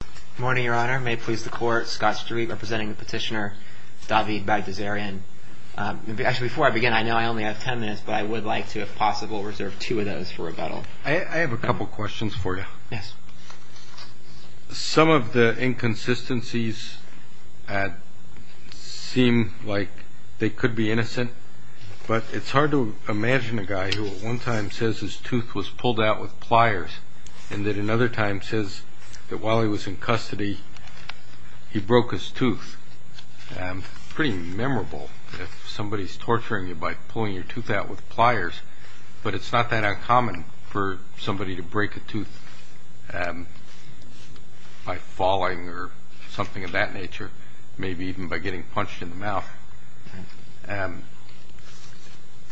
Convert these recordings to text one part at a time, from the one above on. Good morning, Your Honor. May it please the Court, Scott Street representing the petitioner, David Bagdasaryan. Actually, before I begin, I know I only have ten minutes, but I would like to, if possible, reserve two of those for rebuttal. I have a couple questions for you. Yes. Some of the inconsistencies seem like they could be innocent, but it's hard to imagine a guy who at one time says his tooth was pulled out with pliers, and at another time says that while he was in custody, he broke his tooth. Pretty memorable if somebody is torturing you by pulling your tooth out with pliers, but it's not that uncommon for somebody to break a tooth by falling or something of that nature, maybe even by getting punched in the mouth.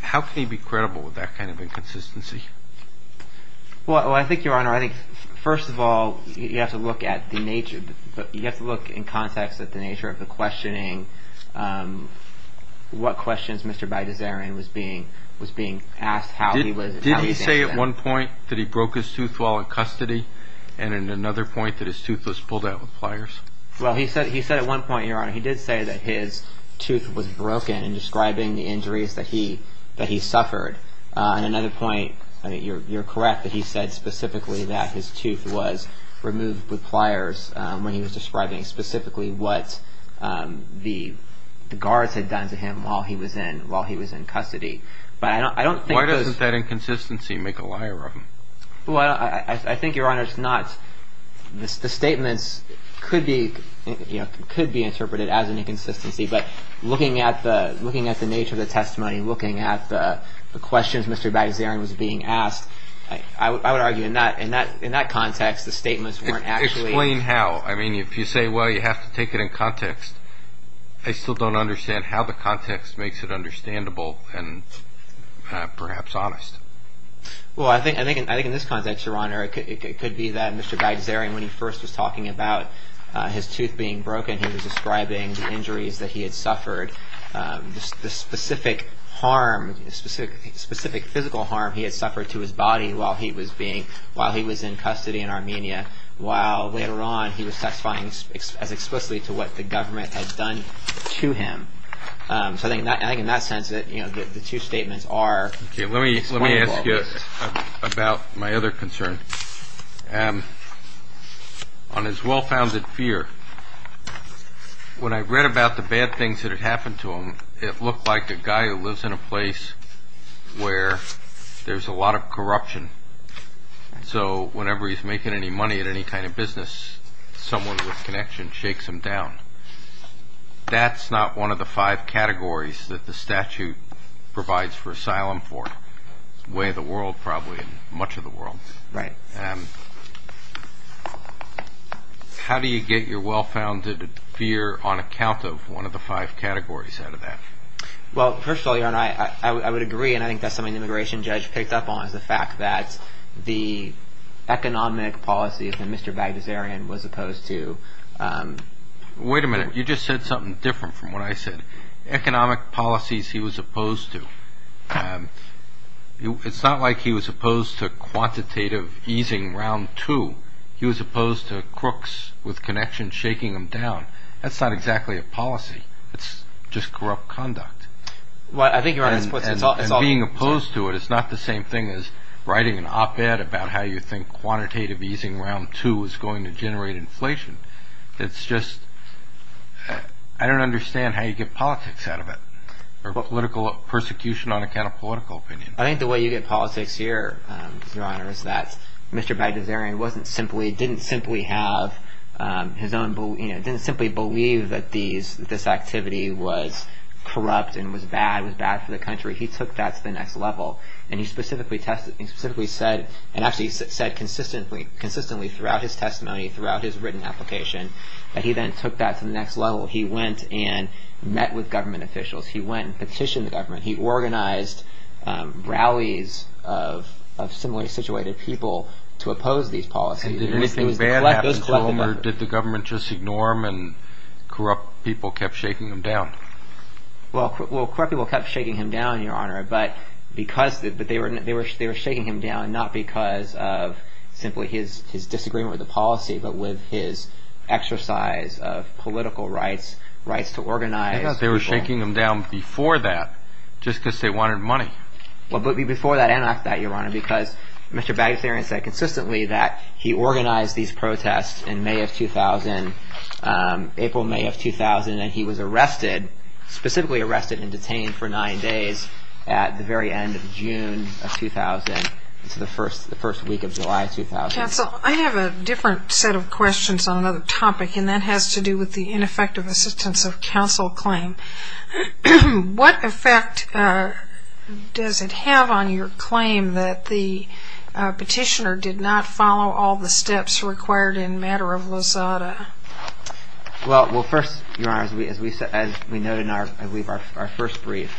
How can he be credible with that kind of inconsistency? Well, I think, Your Honor, first of all, you have to look in context at the nature of the questioning, what questions Mr. Bagdasaryan was being asked, how he was answering them. Did he say at one point that he broke his tooth while in custody, and at another point that his tooth was pulled out with pliers? Well, he said at one point, Your Honor, he did say that his tooth was broken in describing the injuries that he suffered, and at another point, you're correct that he said specifically that his tooth was removed with pliers when he was describing specifically what the guards had done to him while he was in custody, but I don't think those... Why doesn't that inconsistency make a liar of him? Well, I think, Your Honor, it's not... the statements could be interpreted as an inconsistency, but looking at the nature of the testimony, looking at the questions Mr. Bagdasaryan was being asked, I would argue in that context, the statements weren't actually... Explain how. I mean, if you say, well, you have to take it in context, I still don't understand how the context makes it understandable and perhaps honest. Well, I think in this context, Your Honor, it could be that Mr. Bagdasaryan, when he had suffered the specific physical harm he had suffered to his body while he was in custody in Armenia, while later on, he was testifying as explicitly to what the government had done to him. So I think in that sense, the two statements are... Okay, let me ask you about my other concern. On his well-founded fear, when I read about the bad things that had happened to him, it looked like a guy who lives in a place where there's a lot of corruption. So whenever he's making any money at any kind of business, someone with connection shakes him down. That's not one of the five categories that the statute provides for asylum for. Way of the world, probably, and much of the world. Right. How do you get your well-founded fear on account of one of the five categories out of that? Well, first of all, Your Honor, I would agree, and I think that's something the immigration judge picked up on, is the fact that the economic policies that Mr. Bagdasaryan was opposed to... Wait a minute. You just said something different from what I said. Economic policies he was opposed to were quantitative easing round two. He was opposed to crooks with connection shaking him down. That's not exactly a policy. It's just corrupt conduct. Well, I think Your Honor, that's what's... And being opposed to it is not the same thing as writing an op-ed about how you think quantitative easing round two is going to generate inflation. It's just... I don't understand how you get politics out of it, or political persecution on account of political opinion. I think the way you get politics here, Your Honor, is that Mr. Bagdasaryan didn't simply believe that this activity was corrupt and was bad, was bad for the country. He took that to the next level, and he specifically said, and actually said consistently throughout his testimony, throughout his written application, that he then took that to the next level. He went and met with government officials. He went and petitioned the government. He organized rallies of similarly situated people to oppose these policies. And did anything bad happen to them, or did the government just ignore them, and corrupt people kept shaking them down? Well, corrupt people kept shaking him down, Your Honor, but they were shaking him down not because of simply his disagreement with the policy, but with his exercise of political rights, rights to organize. I thought they were shaking him down before that, just because they wanted money. Well, but before that and after that, Your Honor, because Mr. Bagdasaryan said consistently that he organized these protests in May of 2000, April, May of 2000, and he was arrested, specifically arrested and detained for nine days at the very end of June of 2000, the first week of July 2000. Counsel, I have a different set of questions on another topic, and that has to do with the ineffective assistance of counsel claim. What effect does it have on your claim that the petitioner did not follow all the steps required in matter of Lozada? Well, first, Your Honor, as we noted in our first brief,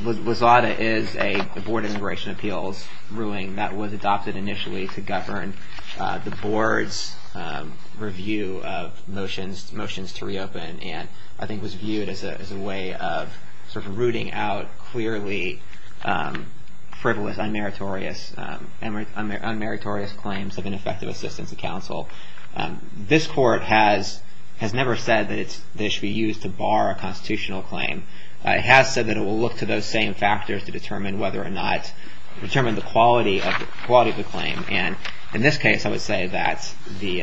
Lozada is a board immigration appeals ruling that was adopted initially to govern the board's review of motions to reopen and I think was viewed as a way of sort of rooting out clearly frivolous, unmeritorious claims of ineffective assistance of counsel. This court has never said that it should be used to bar a constitutional claim. It has said that it will look to those same factors to determine whether or not, determine the quality of the claim. And in this case, I would say that the,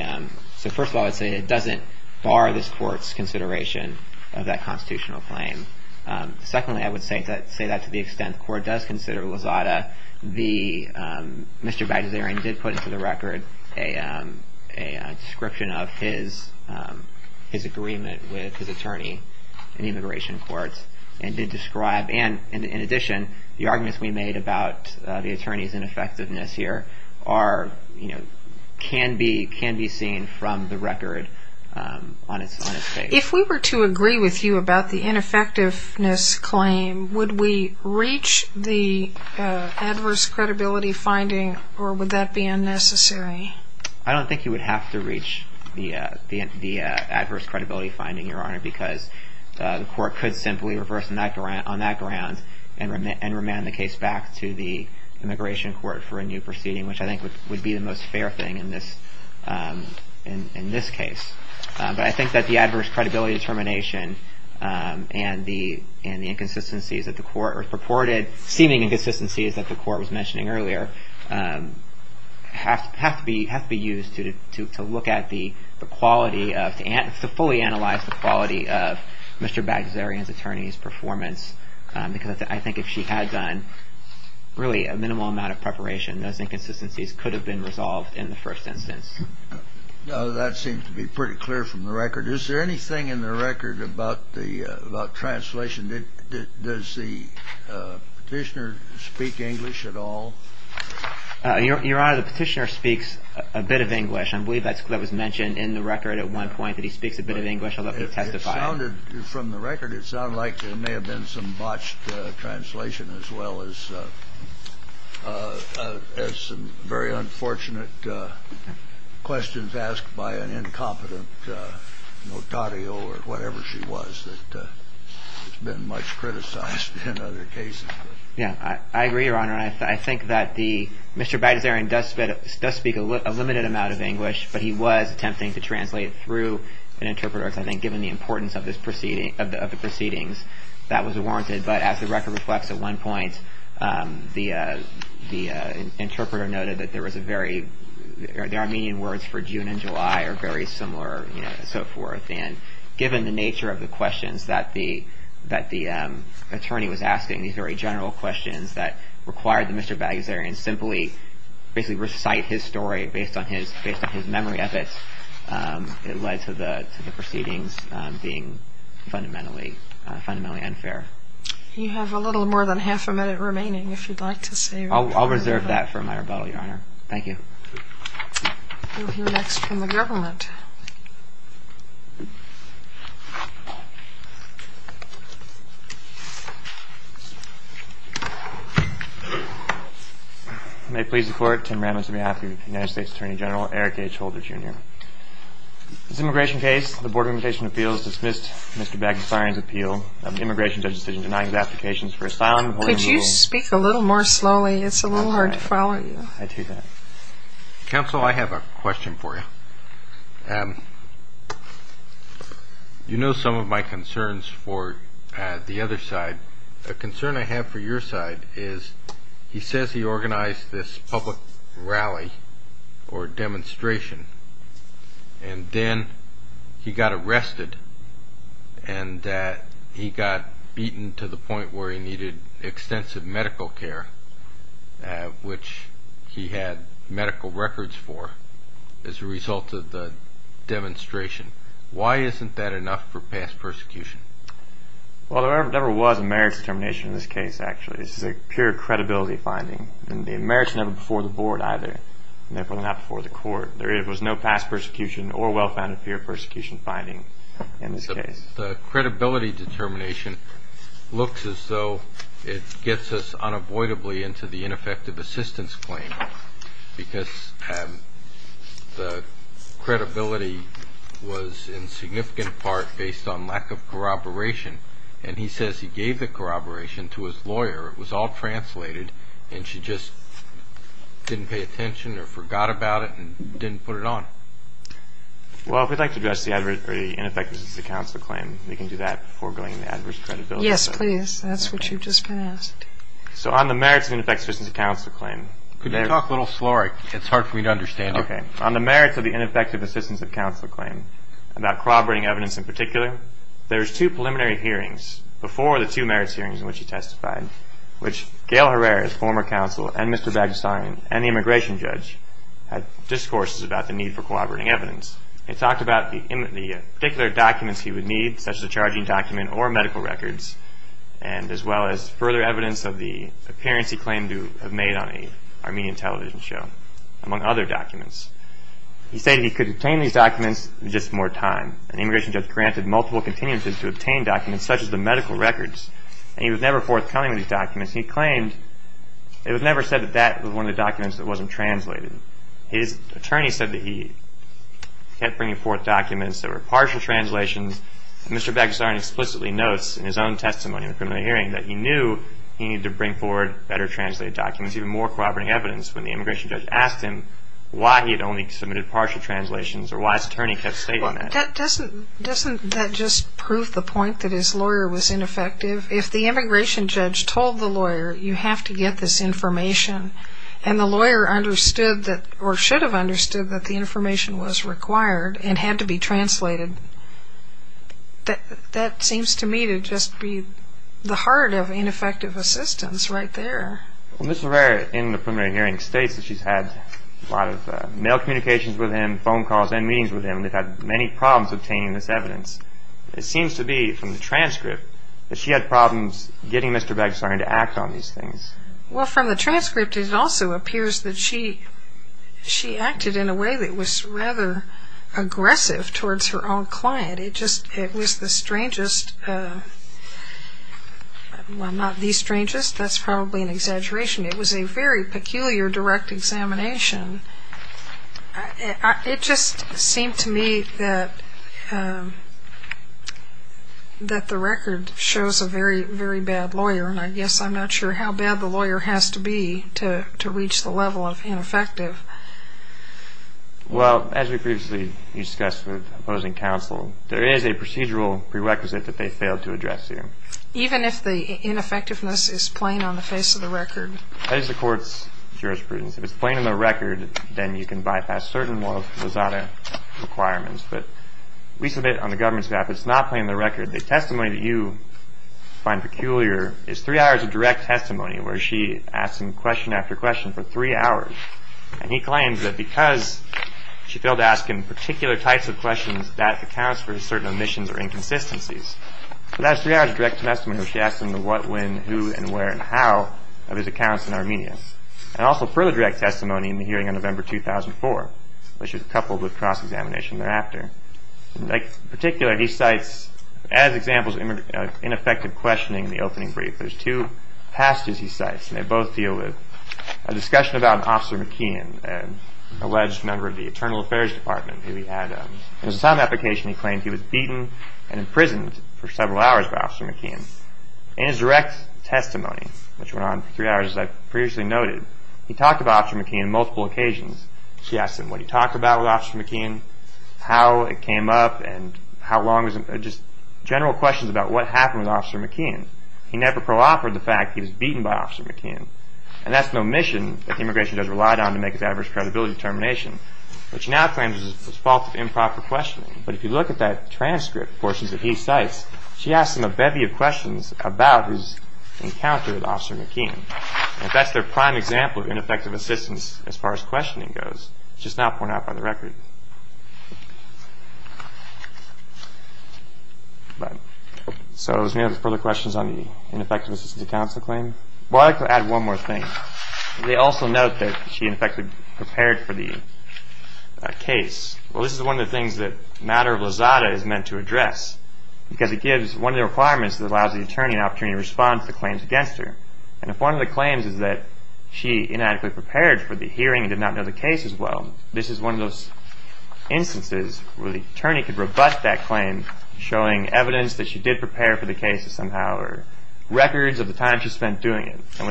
so first of all, I would say it doesn't bar this court's consideration of that constitutional claim. Secondly, I would say that to the extent the court does consider Lozada, Mr. Bagdasaryan did put into the record a description of his agreement with his attorney in the immigration courts and did describe, and in addition, the arguments we made about the attorney's ineffectiveness here are, you know, can be seen from the record on its face. If we were to agree with you about the ineffectiveness claim, would we reach the adverse credibility finding or would that be unnecessary? I don't think you would have to reach the adverse credibility finding, Your Honor, because the court could simply reverse on that ground and remand the case back to the immigration court for a new proceeding, which I think would be the most fair thing in this case. But I think that the adverse credibility determination and the inconsistencies that the court purported, seeming inconsistencies that the court was mentioning earlier, have to be used to look at the quality of, to fully analyze the quality of Mr. Bagdasaryan's attorney's performance because I think if she had done really a minimal amount of preparation, those inconsistencies could have been resolved in the first instance. That seems to be pretty clear from the record. Is there anything in the record about the, about translation? Does the petitioner speak English at all? Your Honor, the petitioner speaks a bit of English. I believe that was mentioned in the record at one point, that he speaks a bit of English. I'll let you testify. It sounded, from the record, it sounded like there may have been some botched translation as well as some very unfortunate questions asked by an incompetent notario or whatever she was that has been much criticized in other cases. Yeah, I agree, Your Honor. I think that the, Mr. Bagdasaryan does speak a limited amount of English, but he was attempting to translate through an interpreter, I think, given the importance of the proceedings. That was warranted, but as the record reflects, at one point, the interpreter noted that there was a very, the Armenian words for June and July are very similar, you know, and so forth. And given the nature of the questions that the attorney was asking, these very general questions that required that Mr. Bagdasaryan simply basically recite his story based on his memory of it, it led to the proceedings being fundamentally unfair. You have a little more than half a minute remaining, if you'd like to say. I'll reserve that for my rebuttal, Your Honor. Thank you. We'll hear next from the government. May it please the Court, Tim Ramos on behalf of the United States Attorney General Eric H. Holder, Jr. This immigration case, the Board of Immigration Appeals, dismissed Mr. Bagdasaryan's appeal of the Immigration Judge's decision denying his applications for asylum. Could you speak a little more slowly? It's a little hard to follow you. I do that. Counsel, I have a question for you. You know some of my concerns for the other side. A concern I have for your side is he says he organized this public rally or demonstration and then he got arrested and that he got beaten to the point where he needed extensive medical care, which he had medical records for, as a result of the demonstration. Why isn't that enough for past persecution? Well, there never was a merits determination in this case, actually. This is a pure credibility finding, and the merits never before the Board either, and therefore not before the Court. There was no past persecution or well-founded pure persecution finding in this case. The credibility determination looks as though it gets us unavoidably into the ineffective assistance claim because the credibility was in significant part based on lack of corroboration, and he says he gave the corroboration to his lawyer. It was all translated, and she just didn't pay attention or forgot about it and didn't put it on. Well, if we'd like to address the ineffective assistance of counsel claim, we can do that before going into adverse credibility. Yes, please. That's what you've just been asked. So on the merits of the ineffective assistance of counsel claim. Could you talk a little slower? It's hard for me to understand you. Okay. On the merits of the ineffective assistance of counsel claim, about corroborating evidence in particular, there's two preliminary hearings before the two merits hearings in which he testified, which Gail Herrera, former counsel, and Mr. Bagenstein, and the immigration judge, had discourses about the need for corroborating evidence. It talked about the particular documents he would need, such as a charging document or medical records, and as well as further evidence of the appearance he claimed to have made on an Armenian television show, among other documents. He stated he could obtain these documents in just more time, and the immigration judge granted multiple continuances to obtain documents such as the medical records, and he was never forthcoming with these documents. He claimed, it was never said that that was one of the documents that wasn't translated. His attorney said that he kept bringing forth documents that were partial translations. Mr. Bagenstein explicitly notes in his own testimony in the preliminary hearing that he knew he needed to bring forward better translated documents, even more corroborating evidence, when the immigration judge asked him why he had only submitted partial translations or why his attorney kept stating that. Doesn't that just prove the point that his lawyer was ineffective? If the immigration judge told the lawyer, you have to get this information, and the lawyer understood that, or should have understood that the information was required and had to be translated, that seems to me to just be the heart of ineffective assistance right there. Well, Ms. LeRaire, in the preliminary hearing, states that she's had a lot of mail communications with him, phone calls and meetings with him, and they've had many problems obtaining this evidence. It seems to be from the transcript that she had problems getting Mr. Bagenstein to act on these things. Well, from the transcript, it also appears that she acted in a way that was rather aggressive towards her own client. It just, it was the strangest, well, not the strangest, that's probably an exaggeration. It was a very peculiar direct examination. It just seemed to me that the record shows a very, very bad lawyer, and I guess I'm not sure how bad the lawyer has to be to reach the level of ineffective. Well, as we previously discussed with opposing counsel, there is a procedural prerequisite that they failed to address here. Even if the ineffectiveness is plain on the face of the record? That is the court's jurisprudence. If it's plain on the record, then you can bypass certain of the ZADA requirements, but we submit on the government's behalf that it's not plain on the record. The testimony that you find peculiar is three hours of direct testimony where she asks him question after question for three hours, and he claims that because she failed to ask him particular types of questions, that accounts for certain omissions or inconsistencies. So that's three hours of direct testimony where she asks him the what, when, who, and where, and how of his accounts in Armenia. And also further direct testimony in the hearing on November 2004, which is coupled with cross-examination thereafter. In particular, he cites, as examples of ineffective questioning in the opening brief, there's two pastors he cites, and they both deal with a discussion about Officer McKeon, an alleged member of the Internal Affairs Department who he had a, it was a time application he claimed he was beaten and imprisoned for several hours by Officer McKeon. In his direct testimony, which went on for three hours as I previously noted, he talked about Officer McKeon on multiple occasions. She asked him what he talked about with Officer McKeon, how it came up, and how long, just general questions about what happened with Officer McKeon. He never pro-offered the fact that he was beaten by Officer McKeon, and that's no mission that the Immigration does rely on to make its adverse credibility determination, which now claims it's the fault of improper questioning. But if you look at that transcript, portions that he cites, she asks him a bevy of questions about his encounter with Officer McKeon, and that's their prime example of ineffective assistance as far as questioning goes, which is not pointed out by the record. So is there any further questions on the ineffective assistance of counsel claim? Well, I'd like to add one more thing. They also note that she in fact prepared for the case. Well, this is one of the things that Matter of Lizada is meant to address, because it gives one of the requirements that allows the attorney an opportunity to respond to the claims against her. And if one of the claims is that she inadequately prepared for the hearing and did not know the case as well, this is one of those instances where the attorney could rebut that claim, showing evidence that she did prepare for the case somehow, or records of the time she spent doing it. You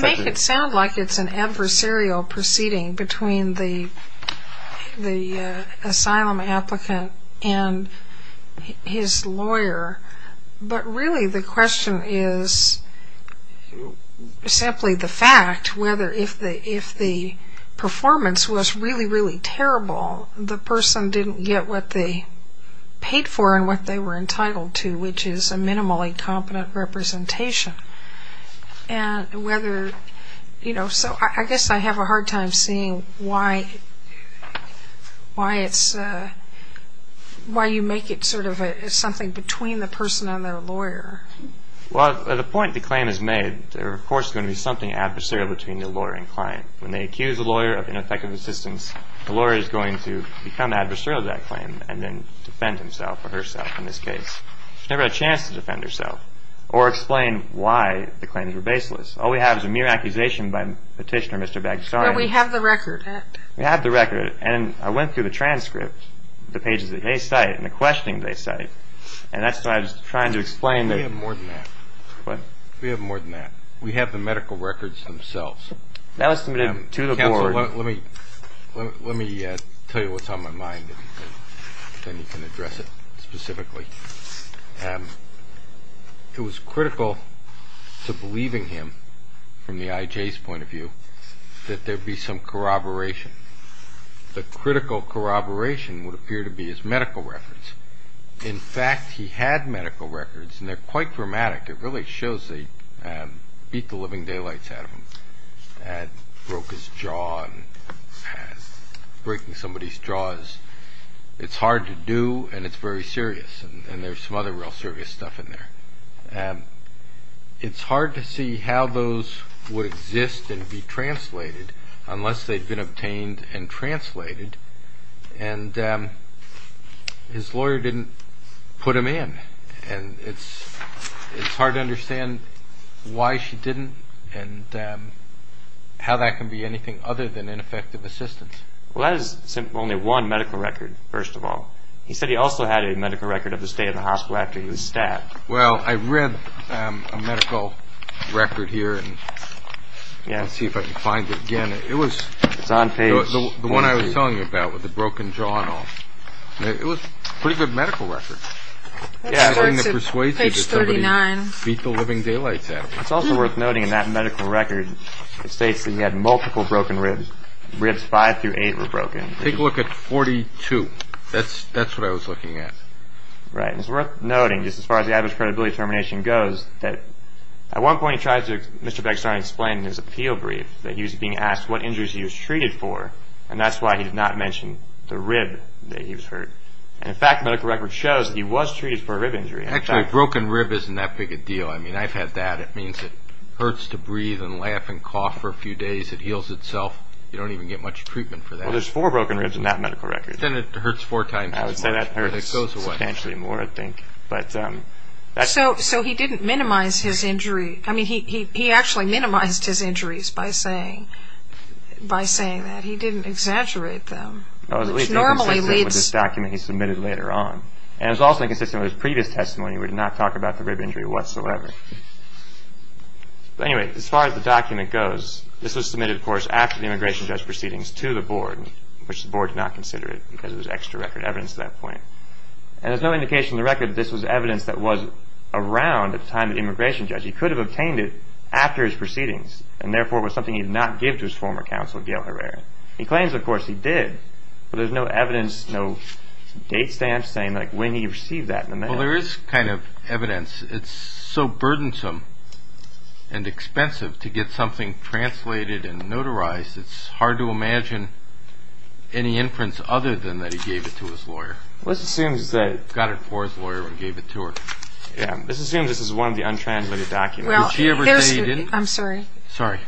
make it sound like it's an adversarial proceeding between the asylum applicant and his lawyer, but really the question is simply the fact whether if the performance was really, really terrible, the person didn't get what they paid for and what they were entitled to, which is a minimally competent representation, and whether, you know, so I guess I have a hard time seeing why it's, why you make it sort of something between the person and their lawyer. Well, at the point the claim is made, there of course is going to be something adversarial between the lawyer and client. When they accuse the lawyer of ineffective assistance, the lawyer is going to become herself in this case. She never had a chance to defend herself or explain why the claims were baseless. All we have is a mere accusation by Petitioner Mr. Baggistani. But we have the record. We have the record, and I went through the transcript, the pages that they cite and the questionings they cite, and that's what I was trying to explain. We have more than that. What? We have more than that. We have the medical records themselves. That was submitted to the board. Let me tell you what's on my mind, and then you can address it specifically. It was critical to believing him from the IJ's point of view that there would be some corroboration. The critical corroboration would appear to be his medical records. In fact, he had medical records, and they're quite dramatic. It really shows they beat the living daylights out of him and broke his jaw and breaking somebody's jaws. It's hard to do, and it's very serious, and there's some other real serious stuff in there. It's hard to see how those would exist and be translated unless they'd been obtained and translated, and his lawyer didn't put him in. It's hard to understand why she didn't and how that can be anything other than ineffective assistance. Well, that is only one medical record, first of all. He said he also had a medical record of the state of the hospital after he was stabbed. Well, I read a medical record here, and let's see if I can find it again. It was the one I was telling you about with the broken jaw and all. It was a pretty good medical record. Yeah, I'm going to persuade you that somebody beat the living daylights out of him. It's also worth noting in that medical record, it states that he had multiple broken ribs. Ribs 5 through 8 were broken. Take a look at 42. That's what I was looking at. Right, and it's worth noting, just as far as the average credibility determination goes, that at one point he tried to, Mr. Begstarne explained in his appeal brief that he was being asked what injuries he was treated for, and that's why he did not mention the rib that he was hurt. And in fact, the medical record shows that he was treated for a rib injury. Actually, a broken rib isn't that big a deal. I mean, I've had that. It means it hurts to breathe and laugh and cough for a few days. It heals itself. You don't even get much treatment for that. Well, there's four broken ribs in that medical record. Then it hurts four times as much. I would say that hurts substantially more, I think. So he didn't minimize his injury. I mean, he actually minimized his injuries by saying that. He didn't exaggerate them. It was inconsistent with this document he submitted later on. And it was also inconsistent with his previous testimony, where he did not talk about the rib injury whatsoever. But anyway, as far as the document goes, this was submitted, of course, after the immigration judge proceedings to the board, which the board did not consider it because it was extra record evidence at that point. And there's no indication in the record that this was evidence that was around at the time of the immigration judge. He could have obtained it after his proceedings, and therefore it was something he did not give to his former counsel, Gail Herrera. He claims, of course, he did. But there's no evidence, no date stamp saying when he received that in the mail. Well, there is kind of evidence. It's so burdensome and expensive to get something translated and notarized, it's hard to imagine any inference other than that he gave it to his lawyer. Let's assume that he got it for his lawyer and gave it to her. Yeah, let's assume this is one of the untranslated documents. Well, here's the thing. I'm sorry. Sorry.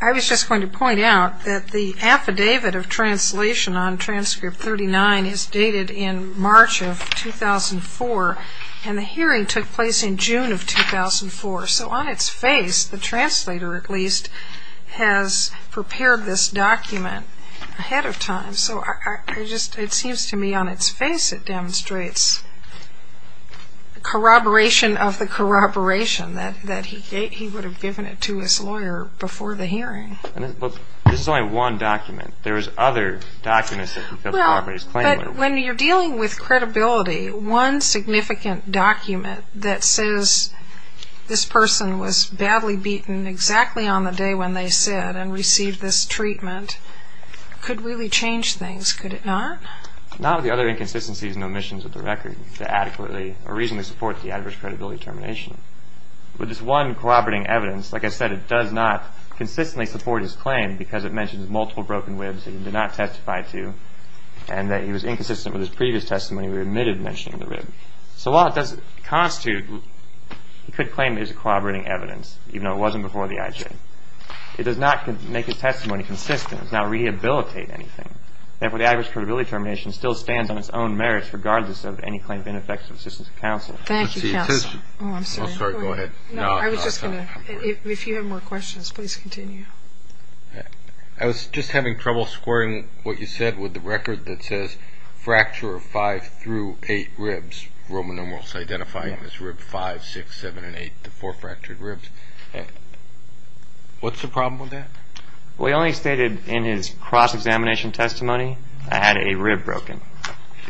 I was just going to point out that the affidavit of translation on transcript 39 is dated in March of 2004, and the hearing took place in June of 2004. So on its face, the translator, at least, has prepared this document ahead of time. So it seems to me on its face it demonstrates corroboration of the corroboration that he would have given it to his lawyer before the hearing. But this is only one document. There is other documents that he could corroborate his claim with. But when you're dealing with credibility, one significant document that says this person was badly beaten exactly on the day when they said and received this treatment could really change things, could it not? Not with the other inconsistencies and omissions of the record or reasonably support the adverse credibility termination. With this one corroborating evidence, like I said, it does not consistently support his claim because it mentions multiple broken ribs that he did not testify to and that he was inconsistent with his previous testimony where he omitted mentioning the rib. So while it does constitute, he could claim it is corroborating evidence, even though it wasn't before the IJ. It does not make his testimony consistent. It does not rehabilitate anything. Therefore, the adverse credibility termination still stands on its own merits regardless of any claim of ineffective assistance of counsel. Thank you, counsel. Oh, I'm sorry. Go ahead. No, I was just going to. If you have more questions, please continue. I was just having trouble squaring what you said with the record that says fracture of five through eight ribs, Roman numerals, identifying this rib five, six, seven, and eight, the four fractured ribs. What's the problem with that? Well, he only stated in his cross-examination testimony I had a rib broken.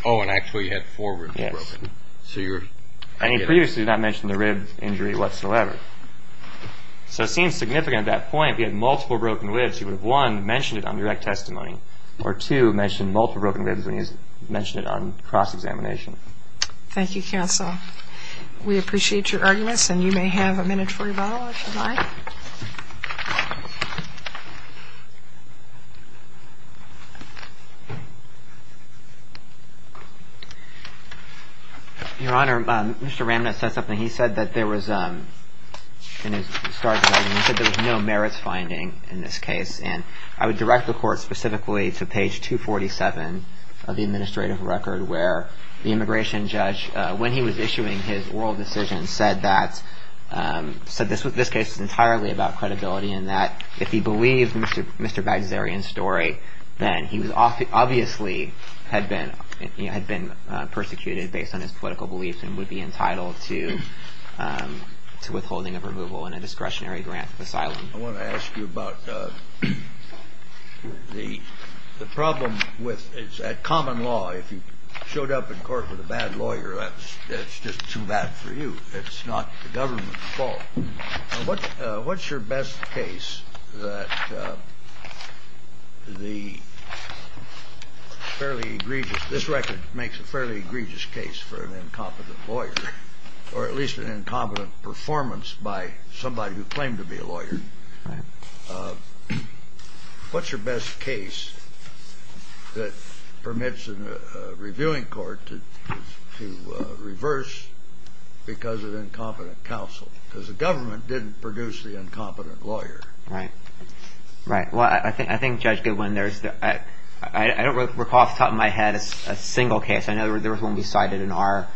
Oh, and actually you had four ribs broken. Yes. And he previously did not mention the rib injury whatsoever. So it seems significant at that point if he had multiple broken ribs, he would have, one, mentioned it on direct testimony, or, two, mentioned multiple broken ribs when he mentioned it on cross-examination. Thank you, counsel. We appreciate your arguments, and you may have a minute for rebuttal if you'd like. Your Honor, Mr. Ramnett said something. He said that there was no merits finding in this case, and I would direct the Court specifically to page 247 of the administrative record where the immigration judge, when he was issuing his oral decision, and that if he believed Mr. Bagsarian's story, then he obviously had been persecuted based on his political beliefs and would be entitled to withholding of removal and a discretionary grant of asylum. I want to ask you about the problem with common law. If you showed up in court with a bad lawyer, that's just too bad for you. It's not the government's fault. What's your best case that the fairly egregious This record makes a fairly egregious case for an incompetent lawyer, or at least an incompetent performance by somebody who claimed to be a lawyer. What's your best case that permits a reviewing court to reverse because of incompetent counsel? Because the government didn't produce the incompetent lawyer. Right. Right. Well, I think, Judge Goodwin, I don't recall off the top of my head a single case. I know there was one we cited in our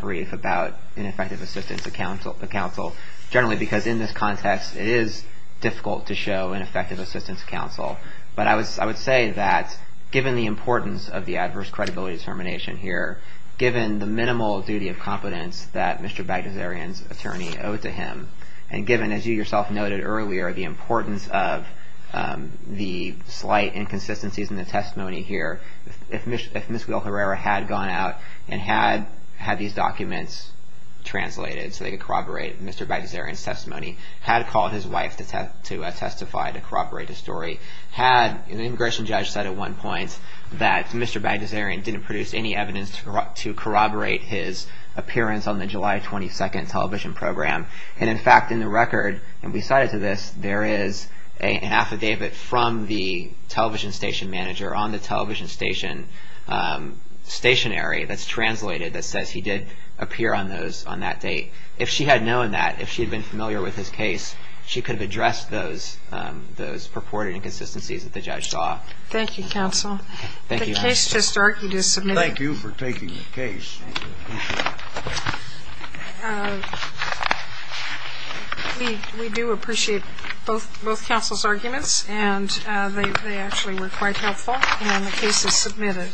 brief about ineffective assistance of counsel, generally because in this context it is difficult to show ineffective assistance of counsel. But I would say that given the importance of the adverse credibility determination here, given the minimal duty of competence that Mr. Bagdasarian's attorney owed to him, and given, as you yourself noted earlier, the importance of the slight inconsistencies in the testimony here, if Ms. Guilherrera had gone out and had these documents translated so they could corroborate Mr. Bagdasarian's testimony, had called his wife to testify to corroborate the story, the immigration judge said at one point that Mr. Bagdasarian didn't produce any evidence to corroborate his appearance on the July 22nd television program. And, in fact, in the record, and we cited to this, there is an affidavit from the television station manager on the television station stationary that's translated that says he did appear on that date. If she had known that, if she had been familiar with his case, she could have addressed those purported inconsistencies that the judge saw. Thank you, counsel. Thank you. The case just argued is submitted. Thank you for taking the case. Thank you. We do appreciate both counsel's arguments, and they actually were quite helpful. And the case is submitted.